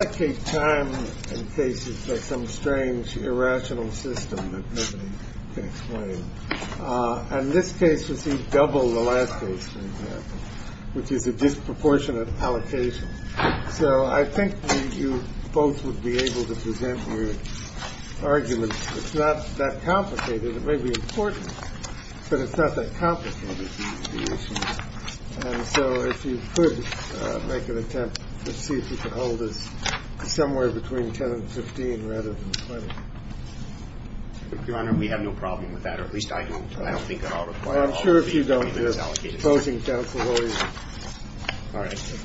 This case received double the last case, for example, which is a disproportionate allocation. So I think you both would be able to present your arguments. It's not that complicated. It may be important, but it's not that complicated. And so if you could make an attempt to see if you could hold us somewhere between 10 and 15 rather than 20. Your Honor, we have no problem with that, or at least I don't. I don't think that I'll refer to all of the amendments allocated. I'm sure if you don't, you're opposing counsel all year. All right.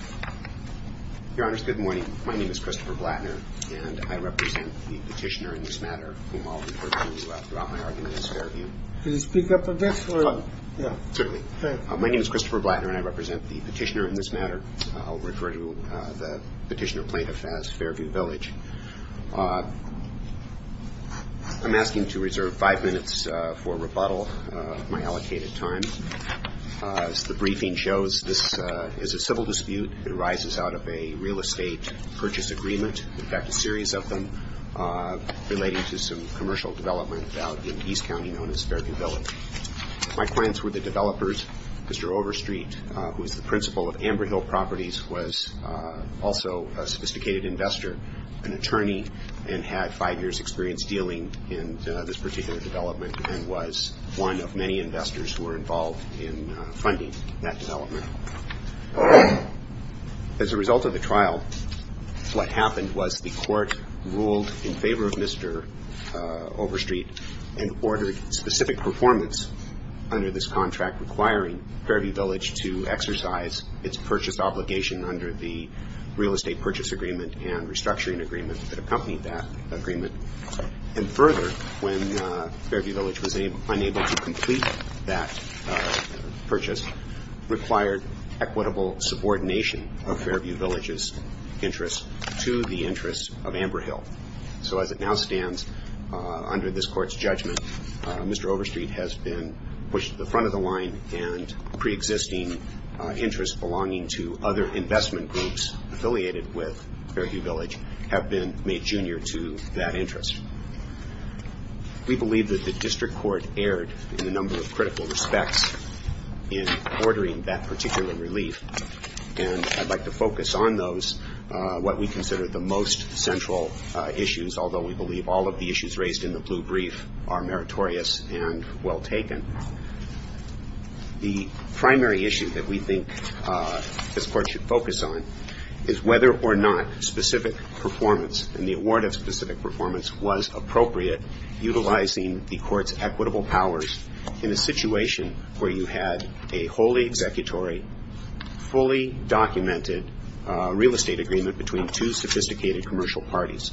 Your Honor, good morning. My name is Christopher Blattner, and I represent the petitioner in this matter, whom I'll refer to throughout my argument in this Fairview. Could you speak up a bit? Certainly. My name is Christopher Blattner, and I represent the petitioner in this matter. I'll refer to the petitioner plaintiff as Fairview Village. I'm asking to reserve five minutes for rebuttal of my allocated time. As the briefing shows, this is a civil dispute. It arises out of a real estate purchase agreement. In fact, a series of them relating to some commercial development out in East County known as Fairview Village. My clients were the developers. Mr. Overstreet, who is the principal of Amber Hill Properties, was also a sophisticated investor, an attorney, and had five years' experience dealing in this particular development and was one of many investors who were involved in funding that development. As a result of the trial, what happened was the court ruled in favor of Mr. Overstreet and ordered specific performance under this contract requiring Fairview Village to exercise its purchase obligation under the real estate purchase agreement and restructuring agreement that accompanied that agreement. And further, when Fairview Village was unable to complete that purchase, required equitable subordination of Fairview Village's interests to the interests of Amber Hill. So as it now stands under this court's judgment, Mr. Overstreet has been pushed to the front of the line and preexisting interests belonging to other investment groups affiliated with Fairview Village have been made junior to that interest. We believe that the district court erred in a number of critical respects in ordering that particular relief, and I'd like to focus on those, what we consider the most central issues, although we believe all of the issues raised in the blue brief are meritorious and well taken. The primary issue that we think this court should focus on is whether or not specific performance and the award of specific performance was appropriate utilizing the court's equitable powers in a situation where you had a wholly executory, fully documented real estate agreement between two sophisticated commercial parties.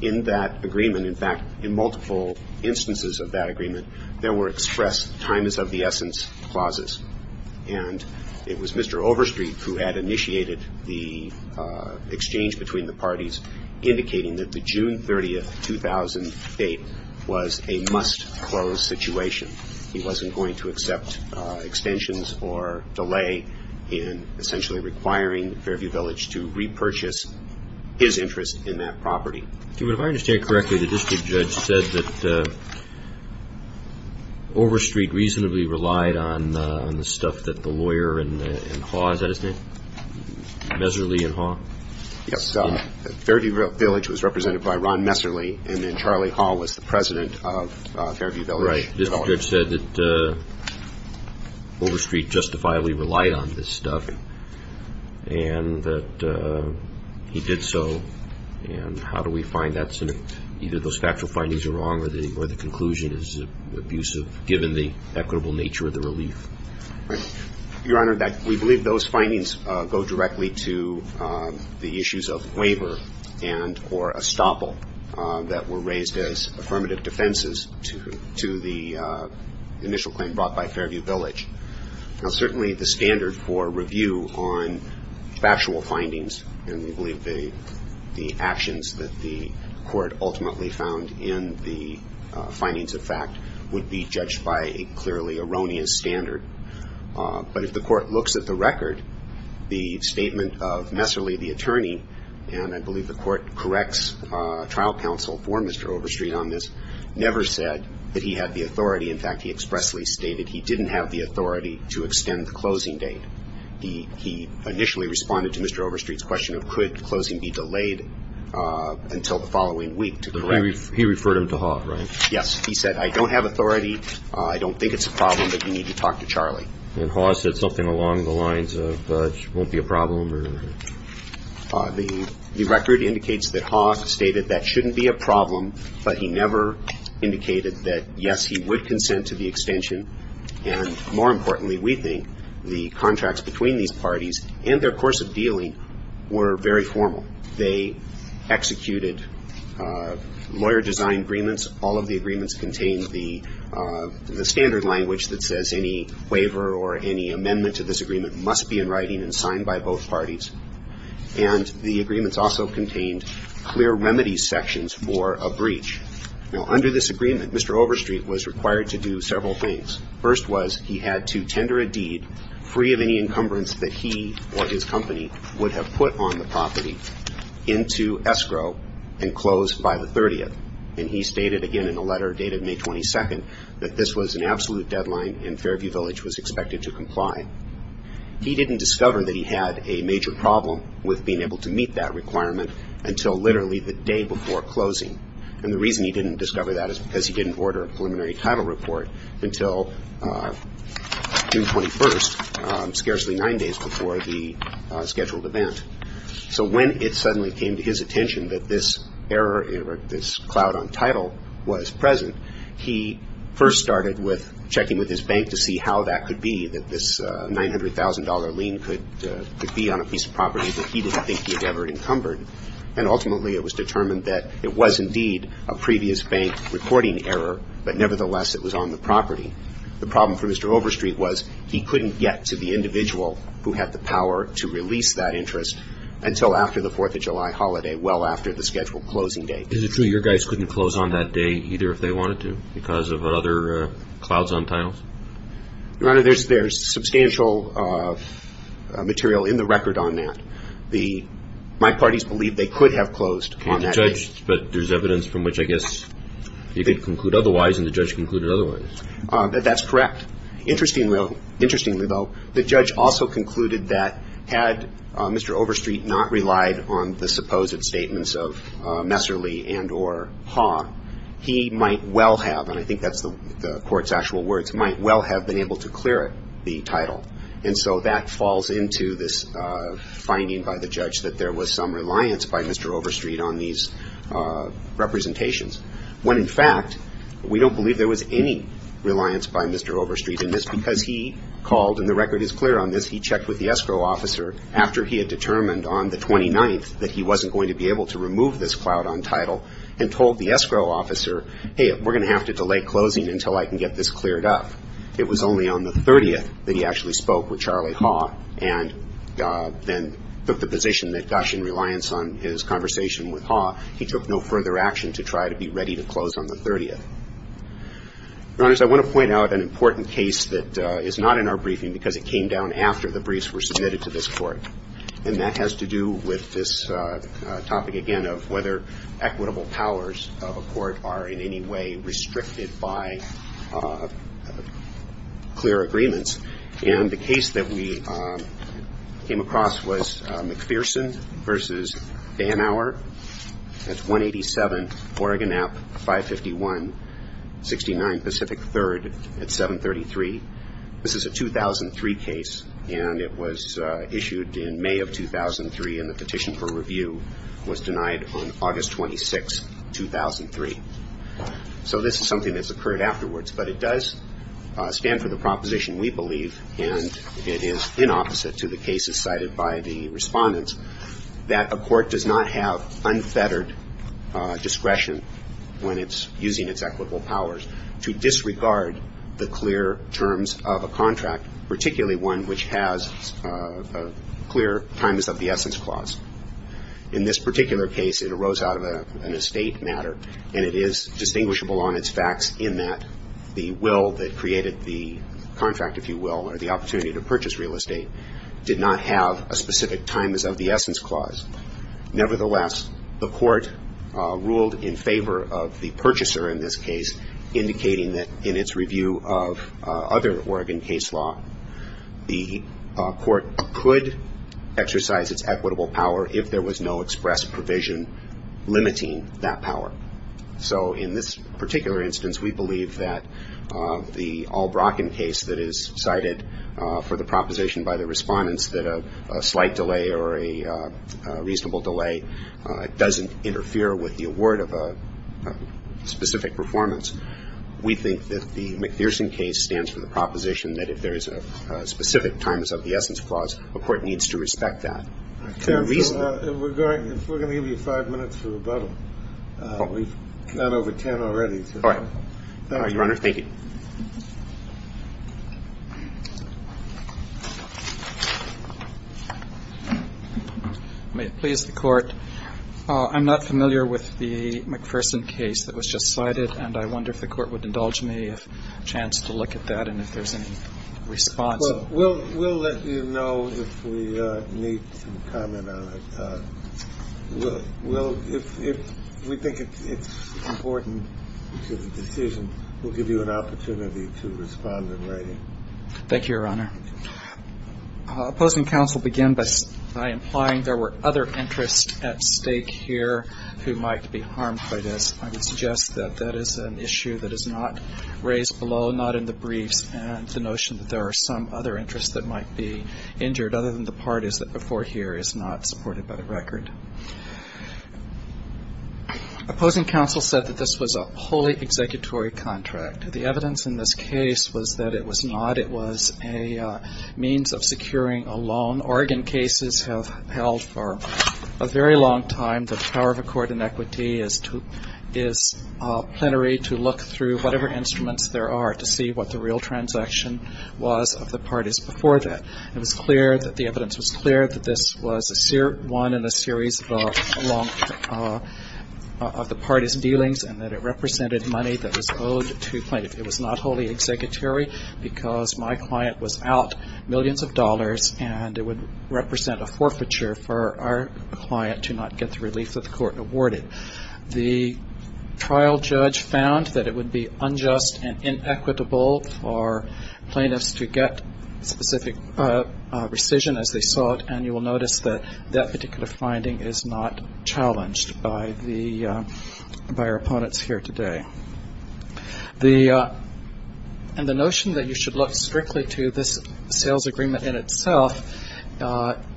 In that agreement, in fact, in multiple instances of that agreement, there were expressed time is of the essence clauses, and it was Mr. Overstreet who had initiated the exchange between the parties, indicating that the June 30, 2000 date was a must-close situation. He wasn't going to accept extensions or delay in essentially requiring Fairview Village to repurchase his interest in that property. If I understand correctly, the district judge said that Overstreet reasonably relied on the stuff that the lawyer in Haw, is that his name, Messerly and Haw? Yes. Fairview Village was represented by Ron Messerly, and then Charlie Haw was the president of Fairview Village. Right. The district judge said that Overstreet justifiably relied on this stuff, and that he did so. And how do we find that? Either those factual findings are wrong or the conclusion is abusive, given the equitable nature of the relief. Your Honor, we believe those findings go directly to the issues of waiver and or estoppel that were raised as affirmative defenses to the initial claim brought by Fairview Village. Now, certainly the standard for review on factual findings, and we believe the actions that the court ultimately found in the findings of fact, would be judged by a clearly erroneous standard. But if the court looks at the record, the statement of Messerly, the attorney, and I believe the court corrects trial counsel for Mr. Overstreet on this, never said that he had the authority. In fact, he expressly stated he didn't have the authority to extend the closing date. He initially responded to Mr. Overstreet's question of could closing be delayed until the following week. He referred him to Haw, right? Yes. He said, I don't have authority. I don't think it's a problem, but you need to talk to Charlie. And Haw said something along the lines of it won't be a problem? The record indicates that Haw stated that shouldn't be a problem, but he never indicated that, yes, he would consent to the extension. And more importantly, we think the contracts between these parties and their course of dealing were very formal. They executed lawyer design agreements. All of the agreements contained the standard language that says any waiver or any amendment to this agreement must be in writing and signed by both parties. And the agreements also contained clear remedy sections for a breach. Now, under this agreement, Mr. Overstreet was required to do several things. First was he had to tender a deed free of any encumbrance that he or his company would have put on the property into escrow and close by the 30th. And he stated again in a letter dated May 22nd that this was an absolute deadline and Fairview Village was expected to comply. He didn't discover that he had a major problem with being able to meet that requirement until literally the day before closing. And the reason he didn't discover that is because he didn't order a preliminary title report until June 21st, scarcely nine days before the scheduled event. So when it suddenly came to his attention that this error or this cloud on title was present, he first started with checking with his bank to see how that could be, that this $900,000 lien could be on a piece of property that he didn't think he had ever encumbered. And ultimately it was determined that it was indeed a previous bank reporting error, but nevertheless it was on the property. The problem for Mr. Overstreet was he couldn't get to the individual who had the power to release that interest until after the 4th of July holiday, well after the scheduled closing date. Is it true your guys couldn't close on that day either if they wanted to because of other clouds on titles? Your Honor, there's substantial material in the record on that. My parties believe they could have closed on that day. But there's evidence from which I guess you could conclude otherwise and the judge concluded otherwise. That's correct. Interestingly though, the judge also concluded that had Mr. Overstreet not relied on the supposed statements of Messerly and or Haugh, he might well have, and I think that's the court's actual words, might well have been able to clear it, the title. And so that falls into this finding by the judge that there was some reliance by Mr. Overstreet on these representations when in fact we don't believe there was any reliance by Mr. Overstreet in this because he called, and the record is clear on this, he checked with the escrow officer after he had determined on the 29th that he wasn't going to be able to remove this cloud on title and told the escrow officer, hey, we're going to have to delay closing until I can get this cleared up. It was only on the 30th that he actually spoke with Charlie Haugh and then took the position that gosh, in reliance on his conversation with Haugh, he took no further action to try to be ready to close on the 30th. Your Honors, I want to point out an important case that is not in our briefing because it came down after the briefs were submitted to this Court. And that has to do with this topic again of whether equitable powers of a court are in any way restricted by clear agreements. And the case that we came across was McPherson v. Banauer at 187 Oregon App 551-69 Pacific 3rd at 733. This is a 2003 case, and it was issued in May of 2003, and the petition for review was denied on August 26, 2003. So this is something that's occurred afterwards, but it does stand for the proposition we believe, and it is inopposite to the cases cited by the respondents, that a court does not have unfettered discretion when it's using its equitable powers to disregard the clear terms of a contract, particularly one which has clear times of the essence clause. In this particular case, it arose out of an estate matter, and it is distinguishable on its facts in that the will that created the contract, if you will, or the opportunity to purchase real estate, did not have a specific times of the essence clause. Nevertheless, the Court ruled in favor of the purchaser in this case, or if there was no express provision limiting that power. So in this particular instance, we believe that the Albrocken case that is cited for the proposition by the respondents, that a slight delay or a reasonable delay doesn't interfere with the award of a specific performance. We think that the McPherson case stands for the proposition that if there is a specific times of the essence clause, a court needs to respect that. I think that's the reason. If we're going to give you five minutes for rebuttal. We've gone over 10 already. All right. Your Honor, thank you. May it please the Court. I'm not familiar with the McPherson case that was just cited, and I wonder if the Court would indulge me if a chance to look at that and if there's any response. Well, we'll let you know if we need some comment on it. We'll, if we think it's important to the decision, we'll give you an opportunity to respond in writing. Thank you, Your Honor. Opposing counsel begin by implying there were other interests at stake here who might be harmed by this. I would suggest that that is an issue that is not raised below, not in the briefs, and the notion that there are some other interests that might be injured, other than the part is that before here is not supported by the record. Opposing counsel said that this was a wholly executory contract. The evidence in this case was that it was not. It was a means of securing a loan. Oregon cases have held for a very long time the power of a court in equity is plenary to look through whatever instruments there are to see what the real transaction was of the parties before that. It was clear that the evidence was clear that this was one in a series of the parties' dealings and that it represented money that was owed to plaintiffs. It was not wholly executory because my client was out millions of dollars, and it would represent a forfeiture for our client to not get the relief that the Court awarded. The trial judge found that it would be unjust and inequitable for plaintiffs to get specific rescission, as they saw it, and you will notice that that particular finding is not challenged by our opponents here today. And the notion that you should look strictly to this sales agreement in itself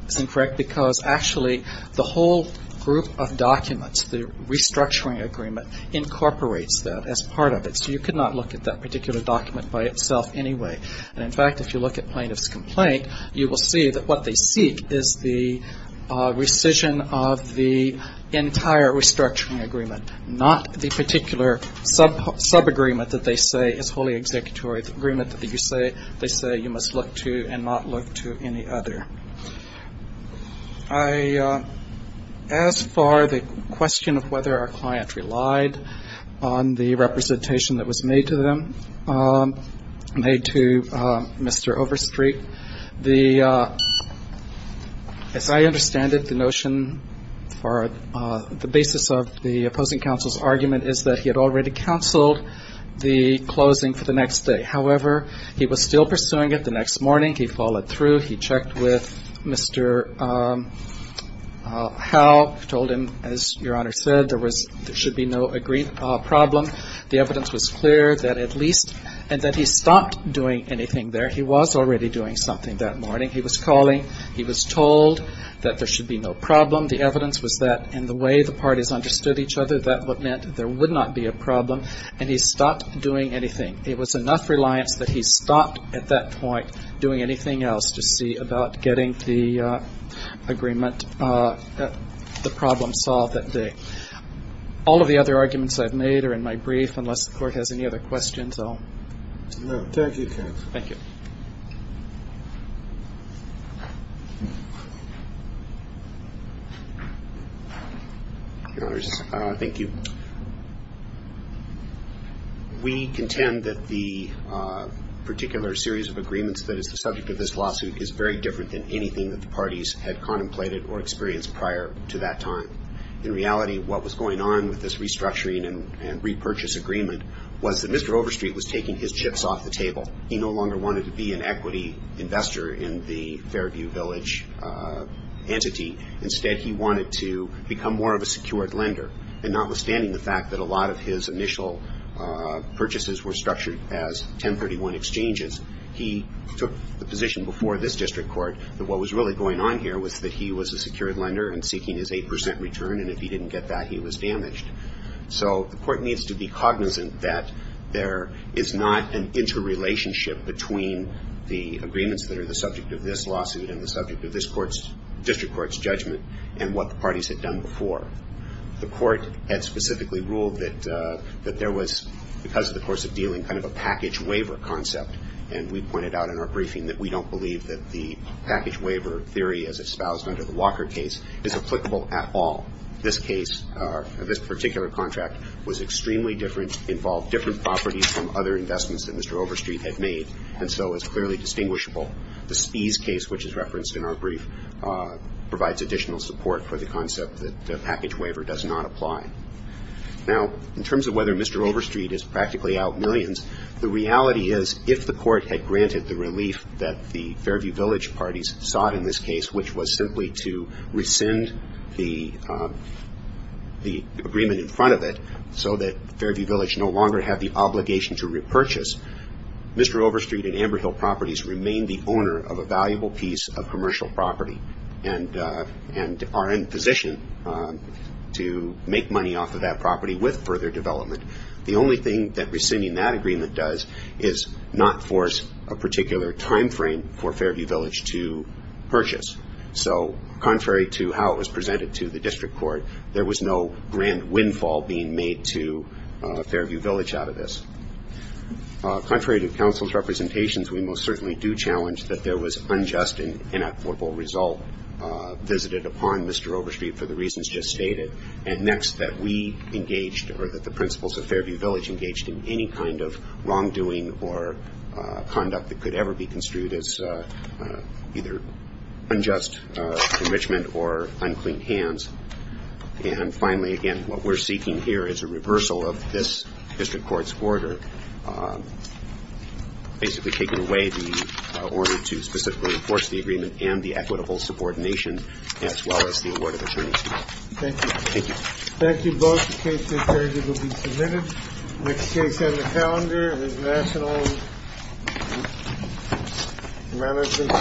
is incorrect because actually the whole group of documents, the restructuring agreement, incorporates that as part of it. So you could not look at that particular document by itself anyway. And, in fact, if you look at plaintiff's complaint, you will see that what they seek is the rescission of the entire restructuring agreement, not the particular subagreement that they say is wholly executory, the subagreement that you say they say you must look to and not look to any other. As far as the question of whether our client relied on the representation that was made to them, made to Mr. Overstreet, as I understand it, the notion for the basis of the opposing counsel's argument is that he had already counseled the closing for the next day. However, he was still pursuing it the next morning. He followed through. He checked with Mr. Howe, told him, as Your Honor said, there should be no problem. The evidence was clear that at least, and that he stopped doing anything there. He was already doing something that morning. He was calling. He was told that there should be no problem. The evidence was that in the way the parties understood each other, that meant there would not be a problem, and he stopped doing anything. It was enough reliance that he stopped at that point doing anything else to see about getting the agreement, the problem solved that day. All of the other arguments I've made are in my brief. Unless the Court has any other questions, I'll move. Roberts. Thank you, counsel. Your Honors. Thank you. We contend that the particular series of agreements that is the subject of this lawsuit is very different than anything that the parties had contemplated or experienced prior to that time. In reality, what was going on with this restructuring and repurchase agreement was that Mr. Overstreet was taking his chips off the table. He no longer wanted to be the judge. He no longer wanted to be an equity investor in the Fairview Village entity. Instead, he wanted to become more of a secured lender, and notwithstanding the fact that a lot of his initial purchases were structured as 1031 exchanges, he took the position before this district court that what was really going on here was that he was a secured lender and seeking his 8% return, and if he didn't get that, he was damaged. So the Court needs to be cognizant that there is not an interrelationship between the agreements that are the subject of this lawsuit and the subject of this district court's judgment and what the parties had done before. The Court had specifically ruled that there was, because of the course of dealing, kind of a package waiver concept, and we pointed out in our briefing that we don't believe that the package waiver theory as espoused under the Walker case is applicable at all. This case, this particular contract, was extremely different, involved different properties from other investments that Mr. Overstreet had made, and so it's clearly distinguishable. The Spies case, which is referenced in our brief, provides additional support for the concept that the package waiver does not apply. Now, in terms of whether Mr. Overstreet is practically out millions, the reality is if the Court had granted the relief that the Fairview Village parties sought in this case, which was simply to rescind the agreement in front of it so that Fairview Village no longer had the obligation to repurchase, Mr. Overstreet and Amber Hill Properties remain the owner of a valuable piece of commercial property and are in position to make money off of that property with further development. The only thing that rescinding that agreement does is not force a particular time frame for Fairview Village to purchase. So contrary to how it was presented to the District Court, there was no grand windfall being made to Fairview Village out of this. Contrary to counsel's representations, we most certainly do challenge that there was unjust and inequitable result visited upon Mr. Overstreet for the reasons just stated, and next, that we engaged or that the principles of Fairview Village engaged in any kind of wrongdoing or conduct that could ever be construed as either unjust enrichment or unclean hands. And finally, again, what we're seeking here is a reversal of this District Court's order, basically taking away the order to specifically enforce the agreement and the equitable subordination as well as the award of attorneyship. Thank you. Thank you. Those cases, Fairview, will be submitted. Next case on the calendar is National Management Services v. Quest.